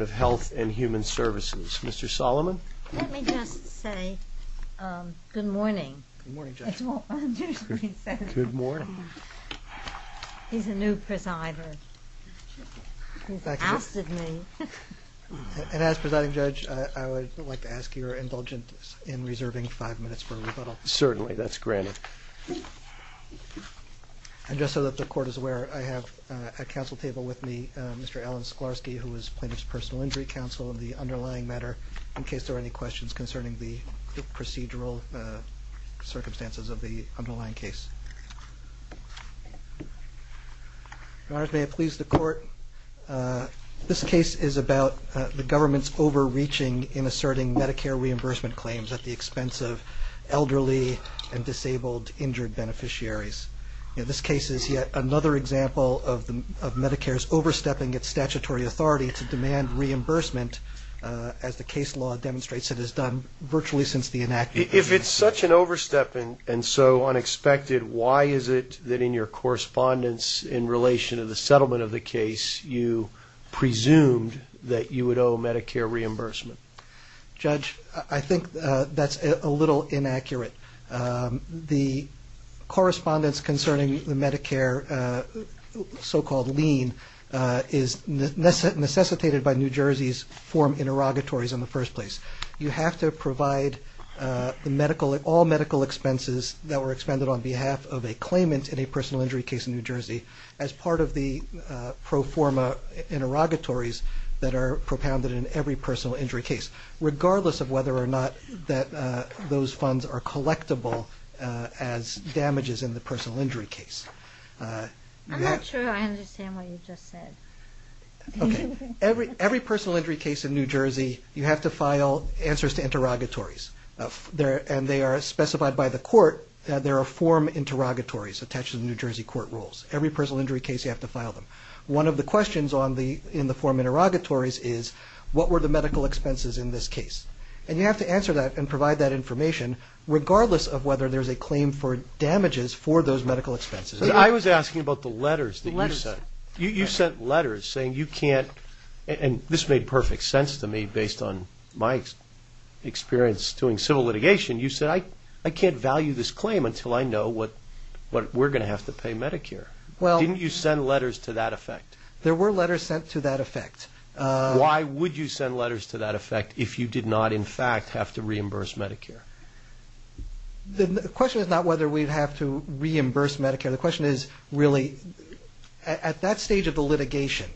of Health and Human Services. Mr. Solomon. Let me just say good morning. Good morning Judge. He's a new presider. He's ousted me. And as presiding judge, I would like to ask your indulgence in reserving five minutes for rebuttal. Certainly, that's granted. And so that the court is aware, I have at council table with me Mr. Alan Sklarsky, who is plaintiff's personal injury counsel in the underlying matter, in case there are any questions concerning the procedural circumstances of the underlying case. Your honors, may it please the court. This case is about the government's overreaching in asserting Medicare reimbursement claims at the expense of elderly and disabled injured beneficiaries. This case is yet another example of Medicare's overstepping its statutory authority to demand reimbursement as the case law demonstrates it has done virtually since the enactment. If it's such an overstepping and so unexpected, why is it that in your correspondence in relation to the settlement of the case, you presumed that you would owe Medicare reimbursement? Judge, I think that's a little inaccurate. The correspondence concerning the Medicare so-called lien is necessitated by New Jersey's form interrogatories in the first place. You have to provide all medical expenses that were expended on behalf of a claimant in a personal injury case in New Jersey as part of the pro forma interrogatories that are propounded in every personal injury case, regardless of whether or not those funds are collectible as damages in the personal injury case. I'm not sure I understand what you just said. Every personal injury case in New Jersey, you have to file answers to interrogatories, and they are specified by the court that there are form interrogatories attached to the New Jersey court to file them. One of the questions in the form interrogatories is, what were the medical expenses in this case? And you have to answer that and provide that information regardless of whether there's a claim for damages for those medical expenses. I was asking about the letters that you sent. You sent letters saying you can't, and this made perfect sense to me based on my experience doing civil litigation. You said, I can't value this claim until I know what we're going to have to pay Medicare. Didn't you send letters to that effect? There were letters sent to that effect. Why would you send letters to that effect if you did not, in fact, have to reimburse Medicare? The question is not whether we'd have to reimburse Medicare. The question is, really, at that stage of the litigation,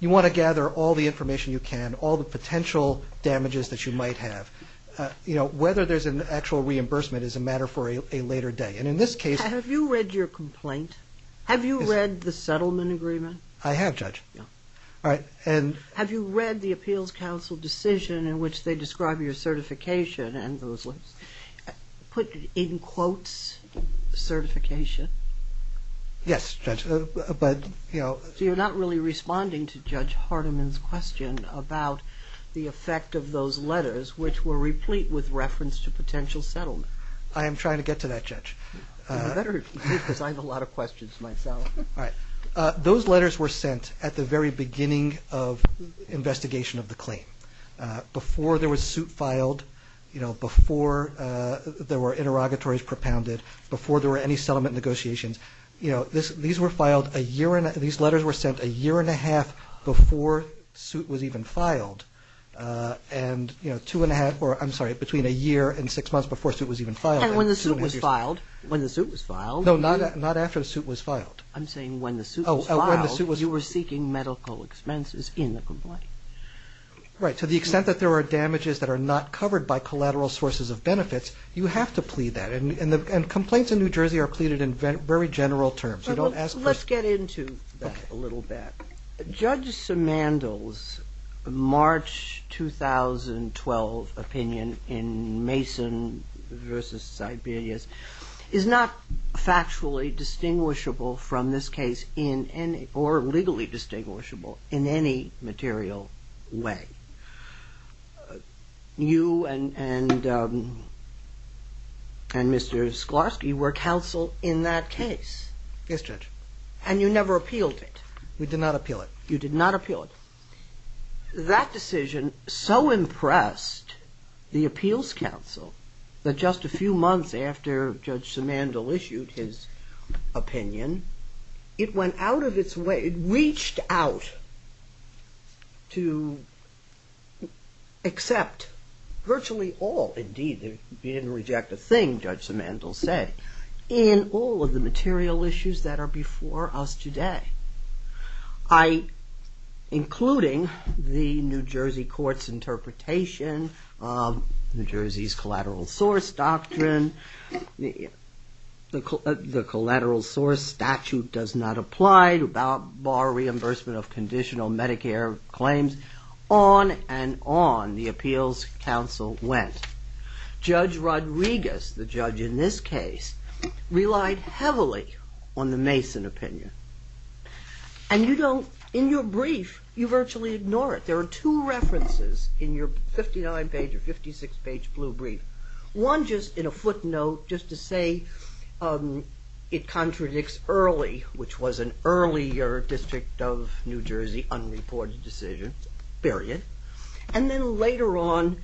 you want to gather all the information you can, all the potential damages that you might have. Whether there's an actual reimbursement is a matter for a later day. And in this case... Have you read your complaint? Have you read the settlement agreement? I have, Judge. Have you read the Appeals Council decision in which they describe your certification and those letters, put in quotes, certification? Yes, Judge, but, you know... So you're not really responding to Judge Hardiman's question about the effect of those letters which were replete with reference to potential settlement. I am trying to get to that, Judge. You better, because I have a lot of questions myself. All right. Those letters were sent at the very beginning of investigation of the claim. Before there was suit filed, you know, before there were interrogatories propounded, before there were any settlement negotiations, you know, these letters were sent a year and a half before suit was even filed. And, you know, two and a half, or I'm sorry, between a year and six months before suit was even filed. And when the suit was filed, when the suit was filed... No, not after the suit was filed. I'm saying when the suit was filed, you were seeking medical expenses in the complaint. Right. To the extent that there were damages that are not covered by collateral sources of benefits, you have to plead that. And complaints in New Jersey are pleaded in very general terms. You don't ask for... Let's get into that a little bit. Judge Simandl's March 2012 opinion in Mason v. Siberius is not factually distinguishable from this case in any, or legally distinguishable in any material way. You and Mr. Sklarsky were counsel in that case. Yes, Judge. And you never appealed it. We did not appeal it. You did not appeal it. That decision so impressed the appeals counsel that just a few months after Judge Simandl issued his opinion, it went out of its way, it reached out to accept virtually all, indeed, if you didn't reject a thing, Judge Simandl said, in all of the cases, including the New Jersey court's interpretation of New Jersey's collateral source doctrine, the collateral source statute does not apply to bar reimbursement of conditional Medicare claims, on and on the appeals counsel went. Judge Rodriguez, the judge in this case, relied heavily on the Mason opinion. And you don't, in your brief, you virtually ignore it. There are two references in your 59 page or 56 page blue brief. One just in a footnote, just to say it contradicts early, which was an earlier District of New Jersey unreported decision, period. And then later on,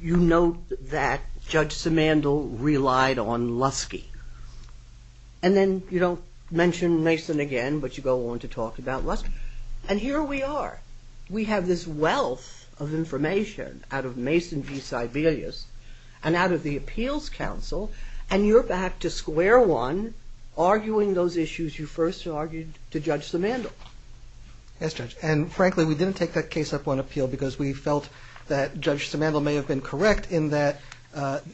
you note that Judge Simandl relied on Lusky. And then you don't mention Mason again, but you go on to talk about Lusky. And here we are, we have this wealth of information out of Mason v. Sibelius, and out of the appeals counsel, and you're back to square one, arguing those issues you first argued to Judge Simandl. Yes, Judge. And frankly, we didn't take that case up on appeal because we felt that Judge Simandl may have been correct in that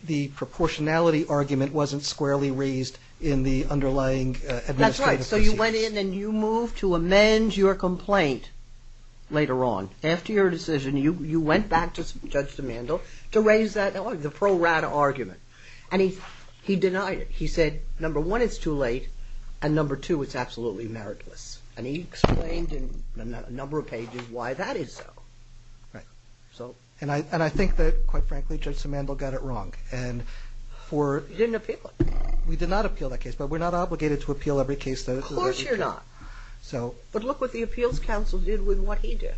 the proportionality argument wasn't squarely raised in the underlying administrative process. That's right. So you went in and you moved to amend your complaint later on. After your decision, you went back to Judge Simandl to raise that, the pro rata argument. And he denied it. He said, number one, it's too late. And number two, it's absolutely meritless. And he explained in a number of pages why that is so. Right. And I think that, quite frankly, Judge Simandl got it wrong. He didn't appeal it. We did not appeal that case, but we're not obligated to appeal every case that is Of course you're not. But look what the appeals counsel did with what he did.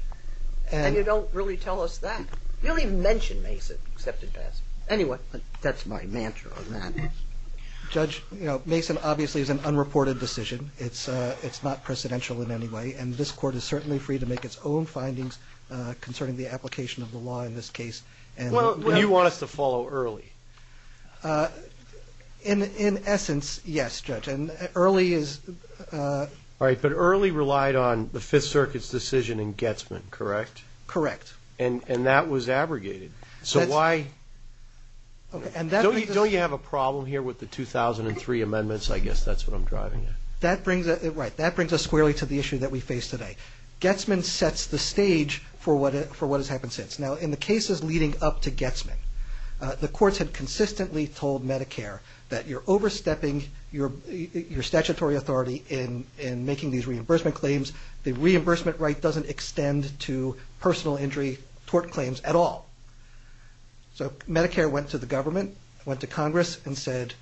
And you don't really tell us that. You don't even mention Mason except in passing. Anyway, that's my answer on that. Judge, Mason obviously is an unreported decision. It's not precedential in any way. And this court is certainly free to make its own findings concerning the application of the law in this case. Well, you want us to follow Early. In essence, yes, Judge. And Early is All right. But Early relied on the Fifth Circuit's decision in Getzman, correct? Correct. And that was abrogated. So why Okay. And that Don't you have a problem here with the 2003 amendments? I guess that's what I'm driving at. Right. That brings us squarely to the issue that we face today. Getzman sets the stage for what has happened since. Now, in the cases leading up to Getzman, the courts had consistently told Medicare that you're overstepping your statutory authority in making these reimbursement claims. The reimbursement right doesn't extend to Medicare went to the government, went to Congress, and said,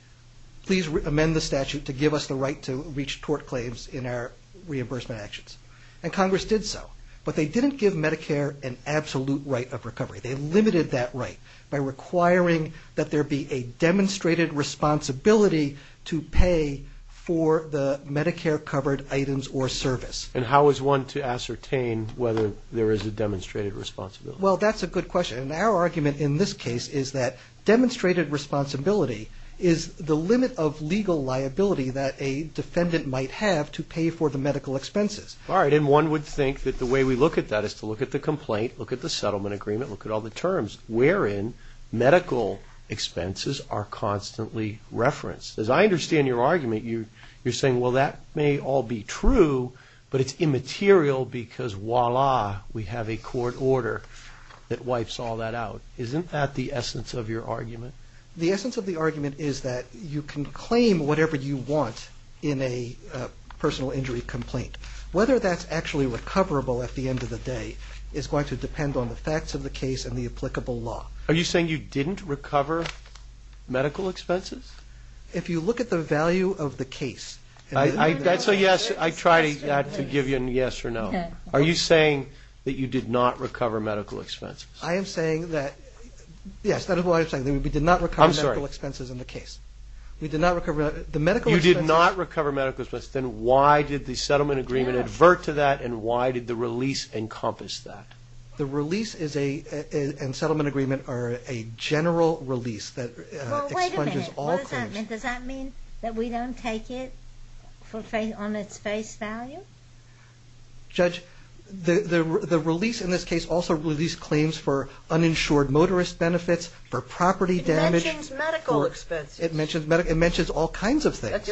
Please amend the statute to give us the right to reach court claims in our reimbursement actions. And Congress did so. But they didn't give Medicare an absolute right of recovery. They limited that right by requiring that there be a demonstrated responsibility to pay for the Medicare-covered items or service. And how is one to ascertain whether there is a demonstrated responsibility? Well, that's a good question. And our argument in this case is that demonstrated responsibility is the limit of legal liability that a defendant might have to pay for the medical expenses. All right. And one would think that the way we look at that is to look at the complaint, look at the settlement agreement, look at all the terms wherein medical expenses are constantly referenced. As I understand your argument, you're saying, Well, that may all be true, but it's immaterial because, voila, we have a court order that wipes all that out. Isn't that the essence of your argument? The essence of the argument is that you can claim whatever you want in a personal injury complaint. Whether that's actually recoverable at the end of the day is going to depend on the facts of the case and the applicable law. Are you saying you didn't recover medical expenses? If you look at the value of the case... So, yes, I try to give you a yes or no. Are you saying that you did not recover medical expenses? I am saying that, yes, that is what I'm saying, that we did not recover medical expenses in the case. We did not recover... You did not recover medical expenses. Then why did the settlement agreement advert to that and why did the release encompass that? The release and settlement agreement are a general release that expunges all claims. Does that mean that we don't take it on its face value? Judge, the release in this case also released claims for uninsured motorist benefits, for property damage... It mentions medical expenses. It mentions all kinds of things.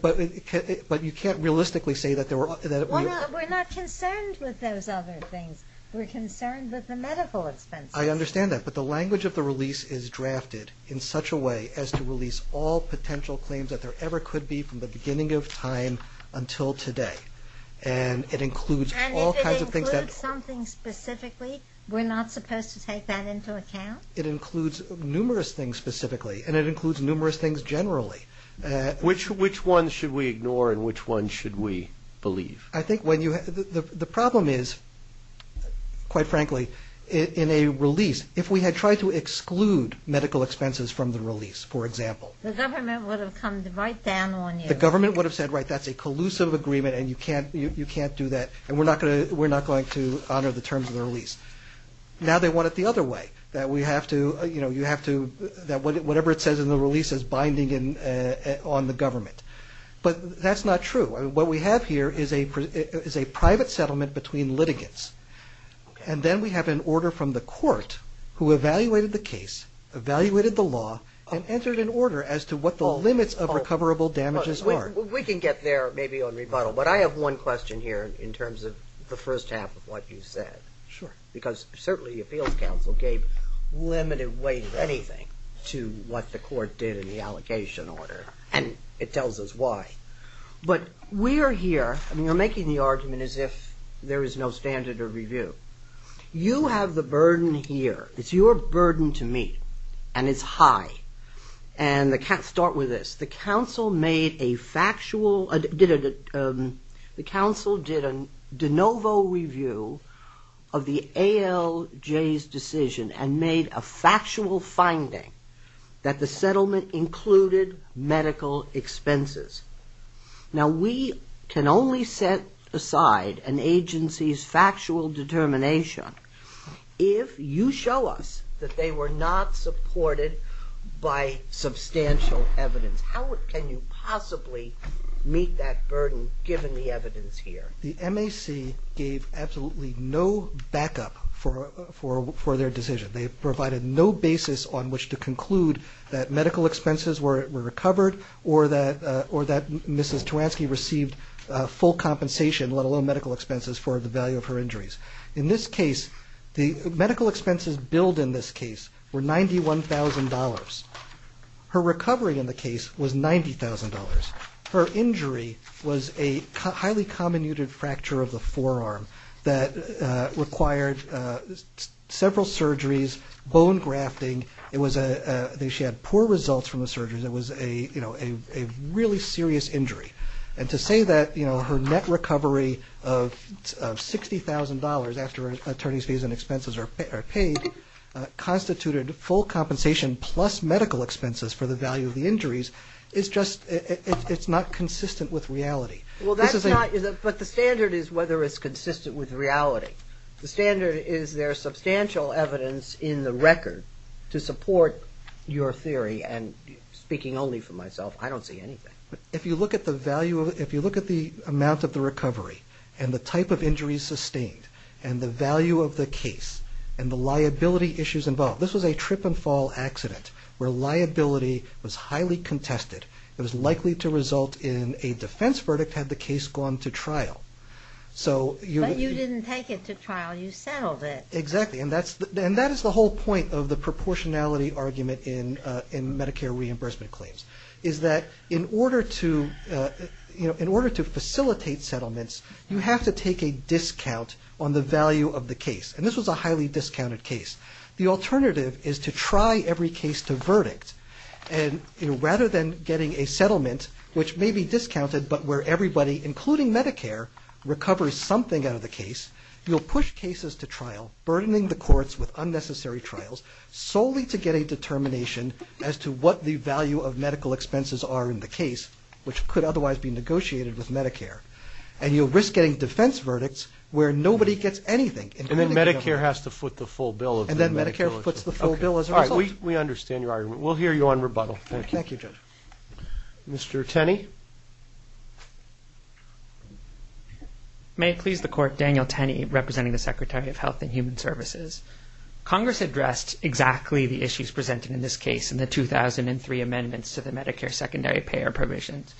But you can't realistically say that there were... We're not concerned with those other things. We're concerned with the medical expenses. I understand that, but the language of the release is drafted in such a way as to release all potential claims that there ever could be from the beginning of time until today. And it includes all kinds of things that... And if it includes something specifically, we're not supposed to take that into account? It includes numerous things specifically and it includes numerous things generally. Which ones should we ignore and which ones should we believe? I think the problem is, quite frankly, in a release, if we had tried to exclude medical expenses from the release, for example... The government would have come right down on you. The government would have said, right, that's a collusive agreement and you can't do that and we're not going to honor the terms of the release. Now they want it the other way, that whatever it says in the release is binding on the government. But that's not true. What we have here is a private settlement between litigants. And then we have an order from the court who evaluated the case, evaluated the law, and entered an order as to what the limits of recoverable damages are. We can get there maybe on rebuttal, but I have one question here in terms of the first half of what you said. Because certainly Appeals Council gave limited weight of anything to what the court did in the allegation order. And it tells us why. But we are here... I mean, you're making the argument as if there is no standard of review. You have the burden here. It's your burden to meet. And it's high. And I can't start with this. The council made a factual... The council did a de novo review of the ALJ's decision and made a factual finding that the settlement included medical expenses. Now, we can only set aside an agency's factual determination if you show us that they were not supported by substantial evidence. How can you possibly meet that burden given the evidence here? The MAC gave absolutely no backup for their decision. They provided no basis on which to conclude that medical expenses were recovered or that Mrs. Teranski received full compensation, let alone medical expenses, for the value of her injuries. In this case, the medical expenses billed in this case were $91,000. Her recovery in the case was $90,000. Her injury was a highly comminuted fracture of the forearm that required several surgeries, bone grafting. She had poor results from the surgeries. It was a really serious injury. And to say that her net recovery of $60,000 after her attorney's fees and expenses are paid constituted full compensation plus medical expenses for the value of the injuries, it's not consistent with reality. But the standard is whether it's consistent with reality. The standard is there's substantial evidence in the record to support your theory, and speaking only for myself, I don't see anything. If you look at the amount of the recovery and the type of injuries sustained and the value of the case and the liability issues involved, this was a trip-and-fall accident where liability was highly contested. It was likely to result in a defense verdict had the case gone to trial. But you didn't take it to trial, you settled it. Exactly, and that is the whole point of the proportionality argument in Medicare reimbursement claims, is that in order to facilitate settlements, you have to take a discount on the value of the case. And this was a highly discounted case. The alternative is to try every case to verdict. And rather than getting a settlement, which may be discounted, but where everybody, including Medicare, recovers something out of the case, you'll push cases to trial, burdening the courts with unnecessary trials, solely to get a determination as to what the value of medical expenses are in the case, which could otherwise be negotiated with Medicare. And you'll risk getting defense verdicts where nobody gets anything. And then Medicare has to foot the full bill. And then Medicare foots the full bill as a result? We understand your argument. We'll hear you on rebuttal. Thank you. Mr. Tenney? May it please the Court, Daniel Tenney, representing the Secretary of Health and Human Services. Congress addressed exactly the issues presented in this case in the 2003 amendments to the Medicare secondary payer provisions.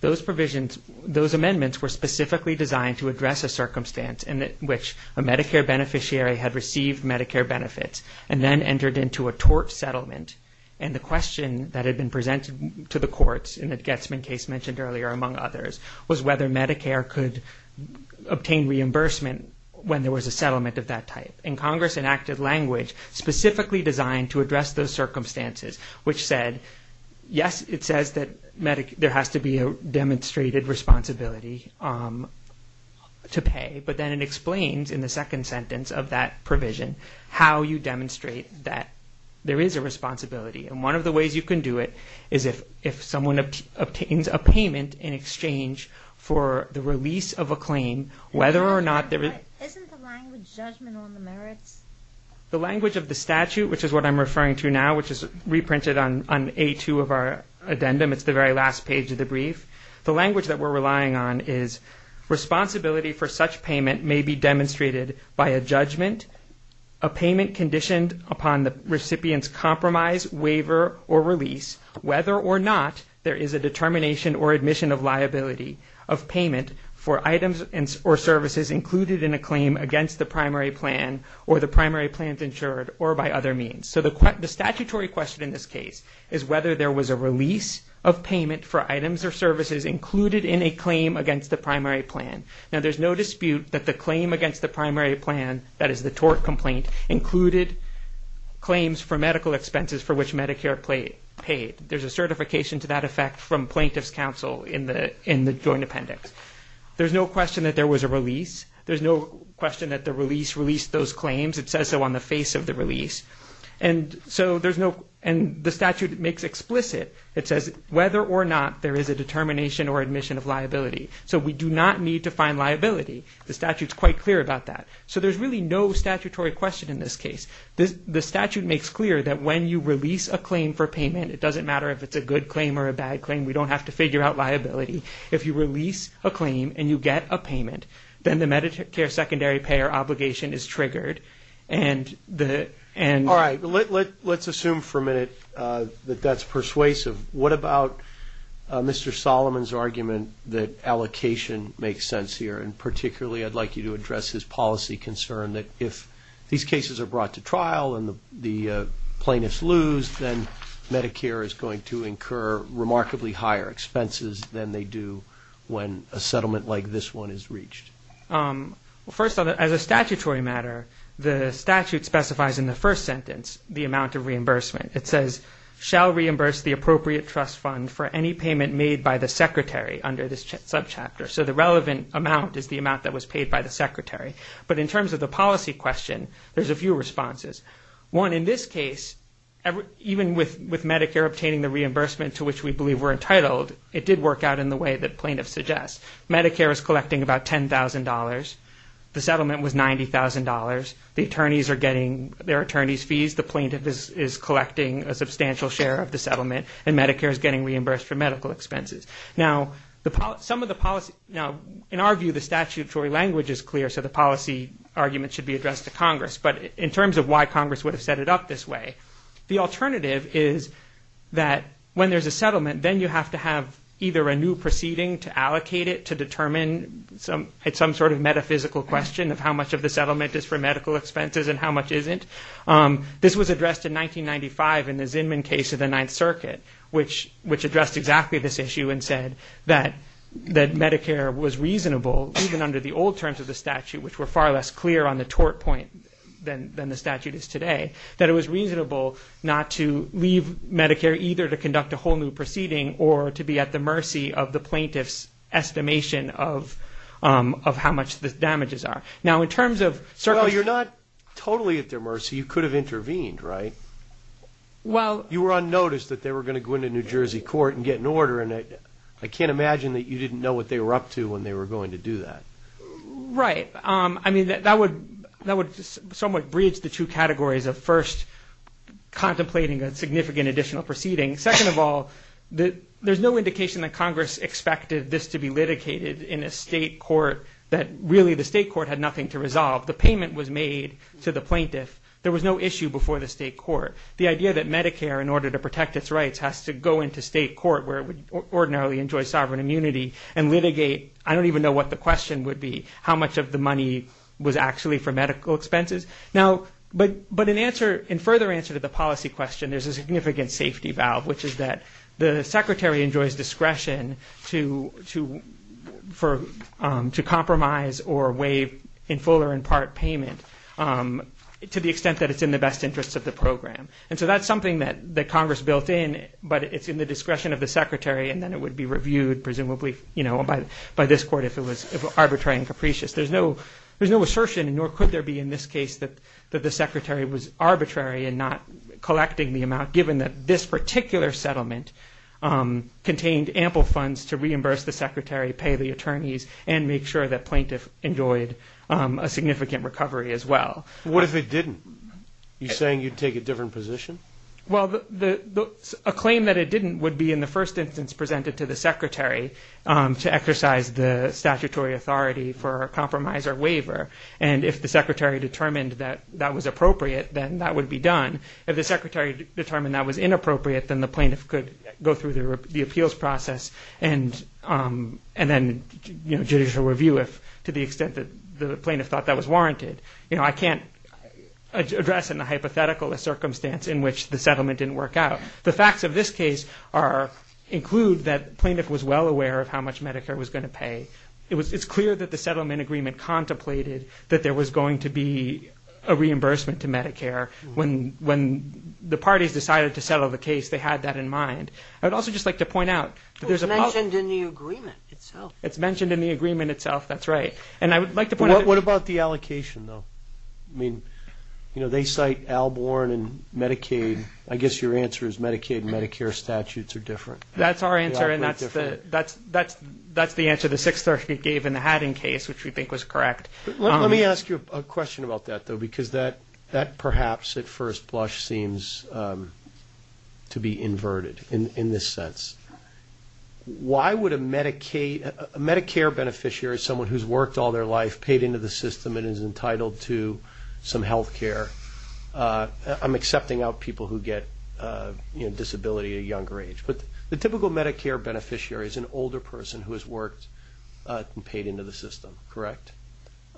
Those provisions, those amendments were specifically designed to address a circumstance in which a Medicare beneficiary had received Medicare benefits and then entered into a tort settlement. And the question that had been presented to the courts in the Getzman case mentioned earlier, among others, was whether Medicare could obtain reimbursement when there was a settlement of that type. And Congress enacted language specifically designed to address those circumstances, which said, yes, it says that there has to be a demonstrated responsibility to pay, but then it explains in the second sentence of that provision how you demonstrate that there is a responsibility. And one of the ways you can do it is if someone obtains a payment in exchange for the release of a claim, whether or not there is... Isn't the language judgment on the merits? The language of the statute, which is what I'm referring to now, which is reprinted on A2 of our addendum. It's the very last page of the brief. The language that we're relying on is responsibility for such payment may be demonstrated by a judgment, a payment conditioned upon the recipient's compromise, waiver, or release, whether or not there is a determination or admission of liability of payment for items or services included in a claim against the primary plan or the primary plans insured or by other means. So the statutory question in this case is whether there was a release of payment for items or services included in a claim against the primary plan. Now, there's no dispute that the claim against the primary plan, that is the tort complaint, included claims for medical expenses for which Medicare paid. There's a certification to that effect from plaintiff's counsel in the Joint Appendix. There's no question that there was a release. There's no question that the release released those claims. It says so on the face of the release. And so there's no... And the statute makes explicit, it says whether or not there is a determination or admission of liability. So we do not need to find liability. The statute's quite clear about that. So there's really no statutory question in this case. The statute makes clear that when you release a claim for payment, it doesn't matter if it's a good claim or a bad claim, we don't have to figure out liability. If you release a claim and you get a payment, then the Medicare secondary payer obligation is triggered and the... All right, let's assume for a minute that that's persuasive. What about Mr. Solomon's argument that allocation makes sense here? And particularly, I'd like you to address his policy concern that if these cases are brought to trial and the plaintiffs lose, then Medicare is going to incur remarkably higher expenses than they do when a settlement like this one is reached. First of all, as a statutory matter, the statute specifies in the first sentence the amount of reimbursement. It says, for any payment made by the secretary under this subchapter. So the relevant amount is the amount that was paid by the secretary. But in terms of the policy question, there's a few responses. One, in this case, even with Medicare obtaining the reimbursement to which we believe we're entitled, it did work out in the way that plaintiffs suggest. Medicare is collecting about $10,000. The settlement was $90,000. The attorneys are getting their attorney's fees. The plaintiff is collecting a substantial share of the settlement, and Medicare is getting reimbursed for medical expenses. Now, in our view, the statutory language is clear, so the policy argument should be addressed to Congress. But in terms of why Congress would have set it up this way, the alternative is that when there's a settlement, then you have to have either a new proceeding to allocate it to determine some sort of metaphysical question of how much of the settlement is for medical expenses and how much isn't. This was addressed in 1995 in the Zinman case of the Ninth Circuit, which addressed exactly this issue and said that Medicare was reasonable, even under the old terms of the statute, which were far less clear on the tort point than the statute is today, that it was reasonable not to leave Medicare either to conduct a whole new proceeding or to be at the mercy of the plaintiff's estimation of how much the damages are. Now, in terms of... Well, you're not totally at their mercy. You could have intervened, right? Well... You were unnoticed that they were going to go into New Jersey court and get an order, and I can't imagine that you didn't know what they were up to when they were going to do that. Right. I mean, that would somewhat bridge the two categories of, first, contemplating a significant additional proceeding. Second of all, there's no indication that Congress expected this to be litigated in a state court that really the state court had nothing to resolve. The payment was made to the plaintiff. There was no issue before the state court. The idea that Medicare, in order to protect its rights, has to go into state court, where it would ordinarily enjoy sovereign immunity, and litigate, I don't even know what the question would be, how much of the money was actually for medical expenses. Now, but in answer... There's a significant safety valve, which is that the secretary enjoys discretion to compromise or waive in full or in part payment to the extent that it's in the best interests of the program. And so that's something that Congress built in, but it's in the discretion of the secretary, and then it would be reviewed, presumably, by this court if it was arbitrary and capricious. There's no assertion, nor could there be in this case, that the secretary was arbitrary in not collecting the amount, given that this particular settlement contained ample funds to reimburse the secretary, pay the attorneys, and make sure that plaintiff enjoyed a significant recovery as well. What if it didn't? You're saying you'd take a different position? Well, a claim that it didn't would be, in the first instance, presented to the secretary to exercise the statutory authority for a compromise or waiver, and if the secretary determined that was appropriate, then that would be done. If the secretary determined that was inappropriate, then the plaintiff could go through the appeals process and then judicial review if, to the extent that the plaintiff thought that was warranted. I can't address in a hypothetical a circumstance in which the settlement didn't work out. The facts of this case include that the plaintiff was well aware of how much Medicare was going to pay. It's clear that the settlement agreement contemplated that there was going to be a reimbursement to Medicare when the parties decided to settle the case, they had that in mind. I'd also just like to point out It's mentioned in the agreement itself. It's mentioned in the agreement itself, that's right. What about the allocation, though? I mean, they cite Alborn and Medicaid. I guess your answer is Medicaid and Medicare statutes are different. That's our answer, and that's the answer the Sixth Circuit gave in the Haddon case, which we think was correct. Let me ask you a question about that, though, because that perhaps at first blush seems to be inverted in this sense. Why would a Medicare beneficiary, someone who's worked all their life, paid into the system and is entitled to some health care I'm accepting out people who get disability at a younger age, but the typical Medicare beneficiary is an older person who has worked and paid into the system, correct?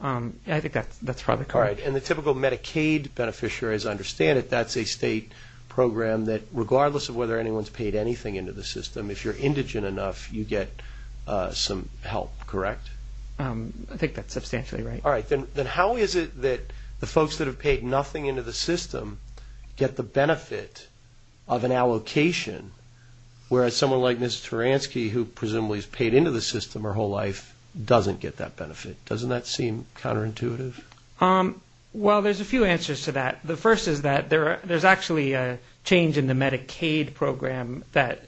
I think that's probably correct. And the typical Medicaid beneficiary, as I understand it, that's a state program that regardless of whether anyone's paid anything into the system, if you're indigent enough, you get some help, correct? I think that's substantially right. All right, then how is it that the folks that have paid nothing into the system get the benefit of an allocation whereas someone like Ms. Taransky, who presumably has paid into the system her whole life, doesn't get that benefit? Doesn't that seem counterintuitive? Well, there's a few answers to that. The first is that there's actually a change in the Medicaid program that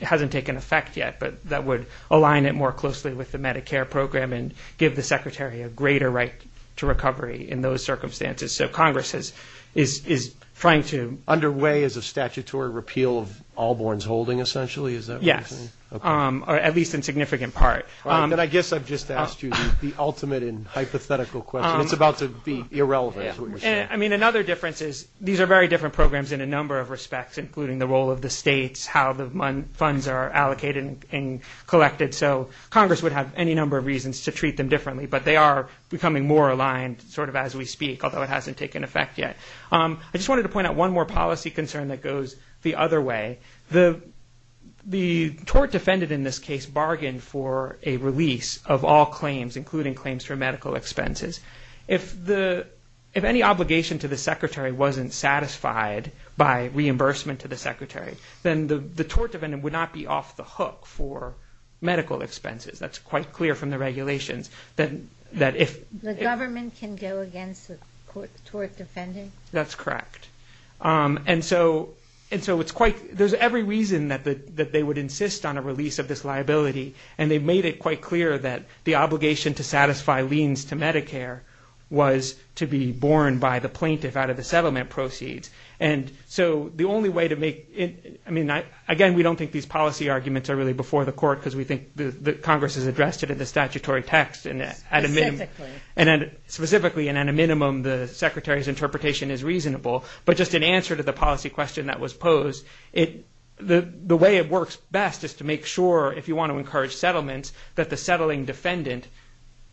hasn't taken effect yet, but that would align it more closely with the Medicare program and give the Secretary a greater right to recovery in those circumstances. So Congress is trying to... Under way is a statutory repeal of Allborn's holding, essentially, is that what you're saying? Yes. At least in significant part. I guess I've just asked you the ultimate and hypothetical question. It's about to be irrelevant. I mean, another difference is these are very different programs in a number of respects, including the role of the states, how the funds are allocated and collected. So Congress would have any number of reasons to treat them differently, but they are becoming more aligned sort of as we speak, although it hasn't taken effect yet. I just wanted to point out one more policy concern that goes the other way. The tort defendant in this case bargained for a release of all claims, including claims for medical expenses. If any obligation to the Secretary wasn't satisfied by reimbursement to the Secretary, then the tort defendant would not be off the hook for medical expenses. That's quite clear from the regulations that if... The government can go against the tort defendant? That's correct. There's every reason that they would insist on a release of this liability and they made it quite clear that the obligation to satisfy liens to Medicare was to be borne by the plaintiff out of the settlement proceeds. The only way to make... Again, we don't think these policy arguments are really before the court because we think Congress has addressed it in the statutory text. Specifically, and at a minimum, the Secretary's interpretation is reasonable. But just in answer to the policy question that was posed, the way it works best is to make sure if you want to encourage settlements, that the settling defendant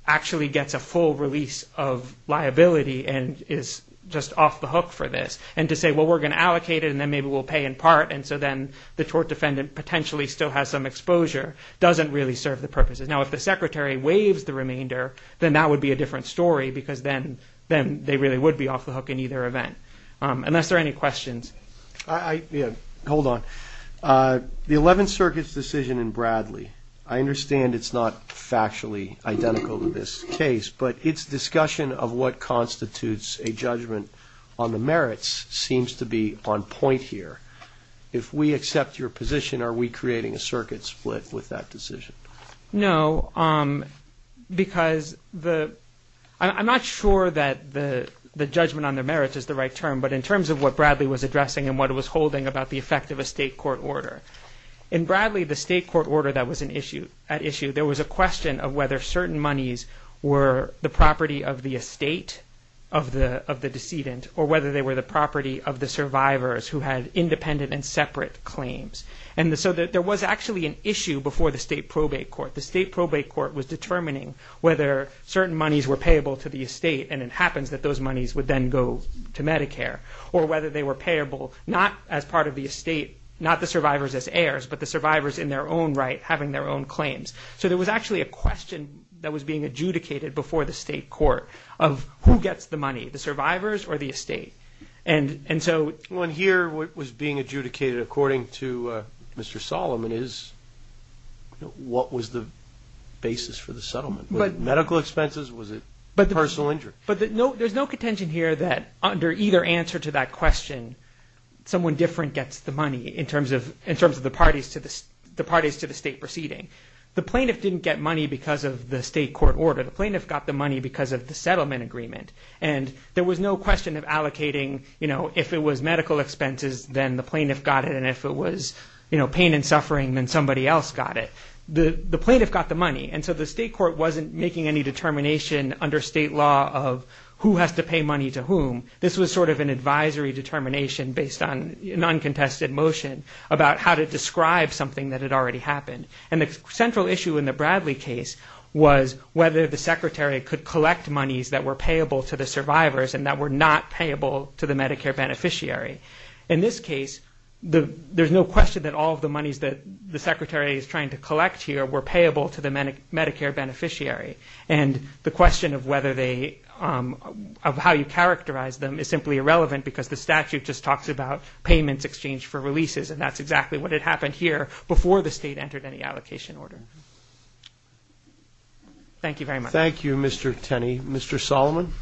actually gets a full release of liability and is just off the hook for this. And to say, well, we're going to allocate it and then maybe we'll pay in part and so then the tort defendant potentially still has some exposure doesn't really serve the purposes. Now, if the Secretary waives the remainder, then that would be a different story because then they really would be off the hook in either event. Unless there are any questions. Hold on. The Eleventh Circuit's decision in Bradley, I understand it's not factually identical to this case, but its discussion of what constitutes a judgment on the merits seems to be on point here. If we accept your position, are we creating a circuit split with that decision? No. Because I'm not sure that the judgment on the merits is the right term, but in terms of what Bradley was addressing and what it was holding about the effect of a state court order, in Bradley the state court order that was at issue there was a question of whether certain monies were the property of the estate of the decedent or whether they were the property of the survivors who had independent and separate claims. There was actually an issue before the state probate court. The state probate court was determining whether certain monies were payable to the estate and it happens that those monies would then go to Medicare, or whether they were payable not as part of the estate, not the survivors as heirs, but the survivors in their own right having their own claims. adjudicated before the state court of who gets the money, the survivors or the estate. Here what was being adjudicated according to Mr. Solomon is what was the basis for the settlement? Medical expenses? Was it personal injury? There's no contention here that under either answer to that question someone different gets the money in terms of the parties to the state proceeding. The plaintiff didn't get money because of the state court order. The plaintiff got the money because of the settlement agreement. There was no question of allocating if it was medical expenses then the plaintiff got it and if it was pain and suffering then somebody else got it. The plaintiff got the money and so the state court wasn't making any determination under state law of who has to pay money to whom. This was sort of an advisory determination based on an uncontested motion about how to describe something that had already happened. The central issue in the Bradley case was whether the payments were payable to the survivors and that were not payable to the Medicare beneficiary. In this case there's no question that all of the monies that the secretary is trying to collect here were payable to the Medicare beneficiary and the question of whether they of how you characterize them is simply irrelevant because the statute just talks about payments exchanged for releases and that's exactly what had happened here before the state entered any allocation order. Thank you very much. Thank you Mr. Tenney. Mr. Solomon.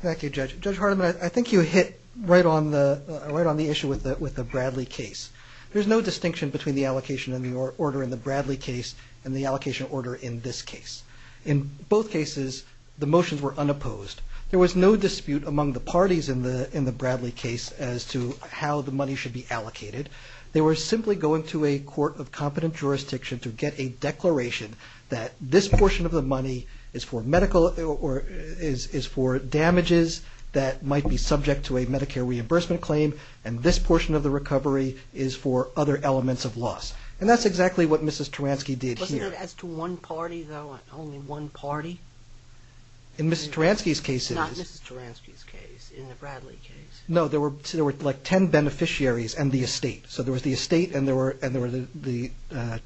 Thank you Judge. Judge Hardiman I think you hit right on the issue with the Bradley case. There's no distinction between the allocation order in the Bradley case and the allocation order in this case. In both cases the motions were unopposed. There was no dispute among the parties in the Bradley case as to how the money should be going to a court of competent jurisdiction to get a declaration that this portion of the money is for medical or is for damages that might be subject to a Medicare reimbursement claim and this portion of the recovery is for other elements of loss. And that's exactly what Mrs. Taransky did here. Wasn't it as to one party though? Only one party? In Mrs. Taransky's case it is. Not Mrs. Taransky's case. In the Bradley case. No there were like ten beneficiaries and the estate. So there was the estate and there were the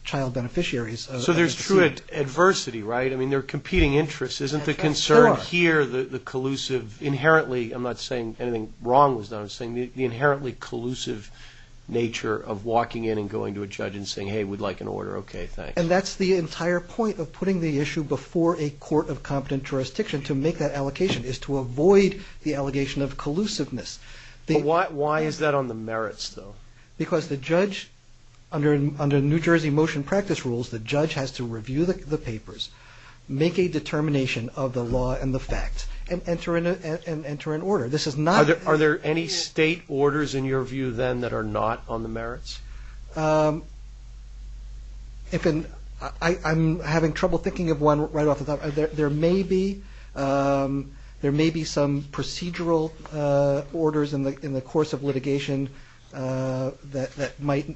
child beneficiaries. So there's true adversity right? I mean they're competing interests isn't the concern here the collusive inherently, I'm not saying anything wrong was done, I'm saying the inherently collusive nature of walking in and going to a judge and saying hey we'd like an order, okay thanks. And that's the entire point of putting the issue before a court of competent jurisdiction to make that allocation is to avoid the allegation of collusiveness. Why is that on the merits though? Because the judge under New Jersey motion practice rules, the judge has to review the papers, make a determination of the law and the facts and enter an order. Are there any state orders in your view then that are not on the merits? I'm having trouble thinking of one right off the top. There may be there may be some procedural orders in the course of litigation that might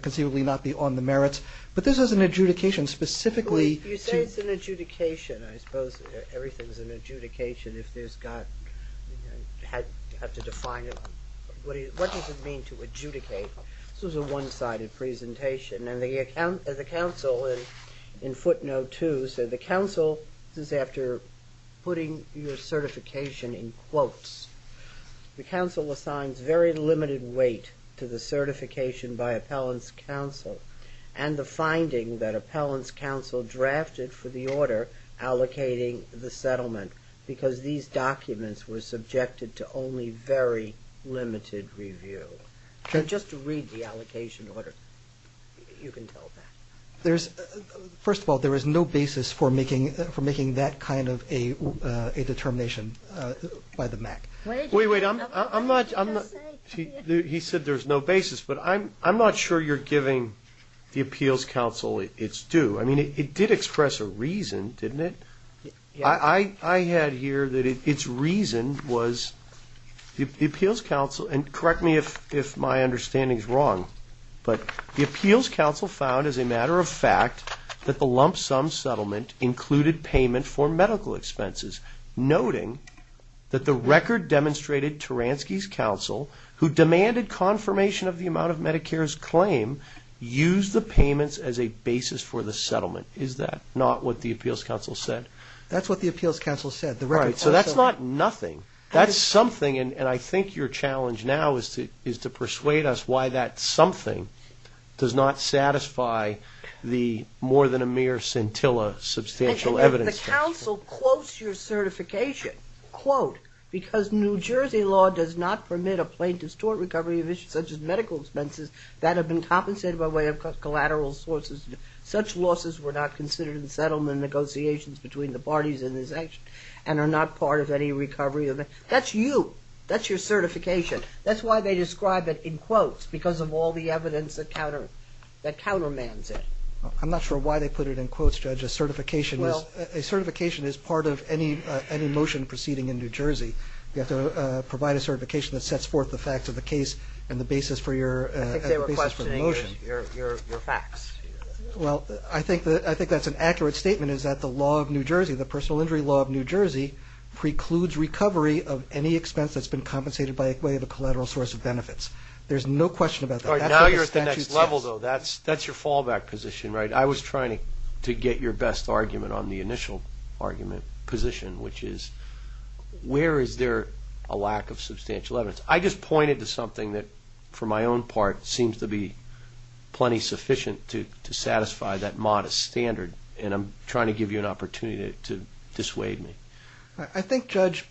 conceivably not be on the merits. But this is an adjudication specifically. You say it's an adjudication I suppose everything's an adjudication if there's got had to define what does it mean to adjudicate? This was a one sided presentation and the council in footnote two said the council this is after putting your certification in quotes the council assigns very limited weight to the certification by appellants council and the finding that appellants council drafted for the order allocating the settlement because these documents were subjected to only very limited review and just to read the allocation order you can tell that. There's first of all there is no basis for making that kind of a determination by the MAC. Wait I'm not he said there's no basis but I'm not sure you're giving the appeals council it's due. I mean it did express a reason didn't it? I had here that it's reason was the appeals council and correct me if my understanding is wrong but the appeals council found as a matter of fact that the lump sum settlement included payment for medical expenses noting that the record demonstrated Turansky's council who demanded confirmation of the amount of Medicare's claim used the payments as a basis for the settlement. Is that not what the appeals council said? That's what the appeals council said. So that's not nothing. That's something and I think your challenge now is to persuade us why that something does not satisfy the more than a mere scintilla substantial evidence. And the council quotes your certification. Quote because New Jersey law does not permit a plaintiff's tort recovery such as medical expenses that have been compensated by way of collateral sources. Such losses were not considered in settlement negotiations between the parties in this action and are not part of any recovery. That's you that's your certification. That's why they describe it in quotes because of all the evidence that countermands it. I'm not sure why they put it in quotes, Judge. A certification is part of any motion proceeding in New Jersey. You have to provide a certification that sets forth the facts of the case and the basis for your motion. Well, I think that's an accurate statement is that the law of New Jersey, the personal injury law of New Jersey precludes recovery of any expense that's been compensated by way of a collateral source of benefits. There's no question about that. Now you're at the next level though that's your fallback position, right? I was trying to get your best argument on the initial argument position, which is where is there a lack of substantial evidence? I just pointed to something that for my own part seems to be plenty sufficient to satisfy that modest standard and I'm trying to give you an opportunity to dissuade me. I think, Judge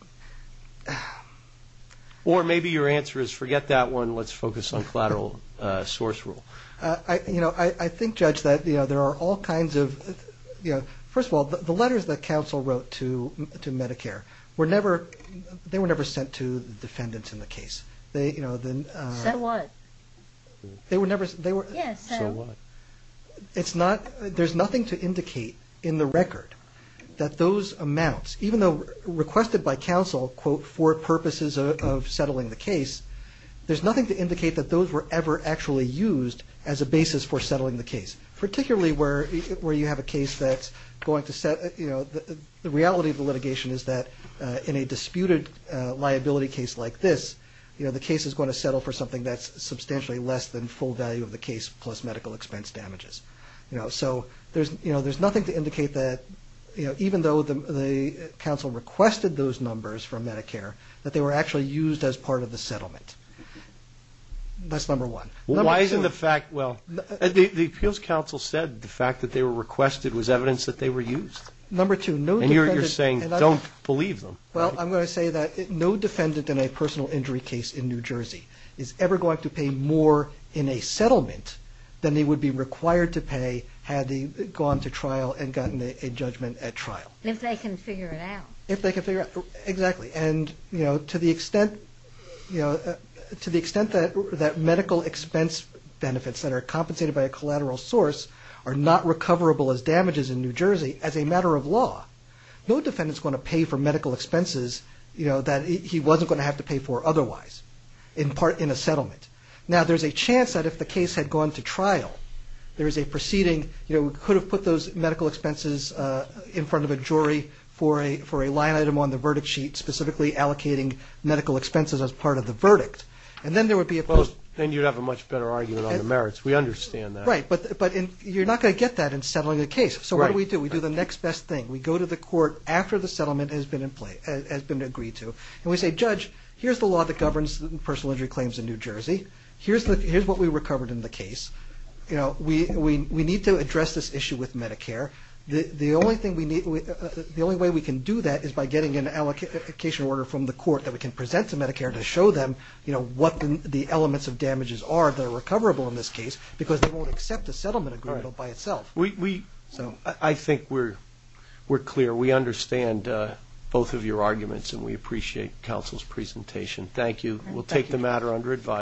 Or maybe your answer is forget that one, let's focus on collateral source rule. I think, Judge, that there are all kinds of first of all, the letters that counsel wrote to Medicare they were never sent to the defendants in the case. Said what? Yes, said what? There's nothing to indicate in the record that those amounts even though requested by counsel for purposes of settling the case, there's nothing to indicate that those were ever actually used as a basis for settling the case. Particularly where you have a case that's going to set the reality of the litigation is that in a disputed liability case like this, the case is going to settle for something that's substantially less than full value of the case plus medical expense damages. So there's nothing to indicate that even though the counsel requested those numbers from Medicare that they were actually used as part of the settlement. That's number one. Why isn't the fact, well the appeals counsel said the fact that they were requested was evidence that they were used. Number two, no defendant And you're saying don't believe them. Well, I'm going to say that no defendant in a personal injury case in New Jersey is ever going to pay more in a settlement than they would be required to pay had they gone to trial and gotten a judgment at trial. If they can figure it out. Exactly, and you know to the extent that medical expense benefits that are compensated by a collateral source are not recoverable as damages in New Jersey as a matter of law, no defendant is going to pay for medical expenses that he wasn't going to have to pay for otherwise in a settlement. Now there's a chance that if the case had gone to trial, there is a proceeding, you know, we could have put those medical expenses in front of a jury for a line item on the verdict sheet specifically allocating medical expenses as part of the verdict and then there would be a post. Then you'd have a much better argument on the merits. We understand that. Right, but you're not going to get that in settling a case. So what do we do? We do the next best thing. We go to the court after the settlement has been agreed to and we say, Judge, here's the law that here's what we recovered in the case. You know, we need to address this issue with Medicare. The only way we can do that is by getting an allocation order from the court that we can present to Medicare to show them what the elements of damages are that are recoverable in this case because they won't accept a settlement agreement by itself. I think we're clear. We understand both of your arguments and we appreciate counsel's presentation. Thank you. We'll take the matter under advice.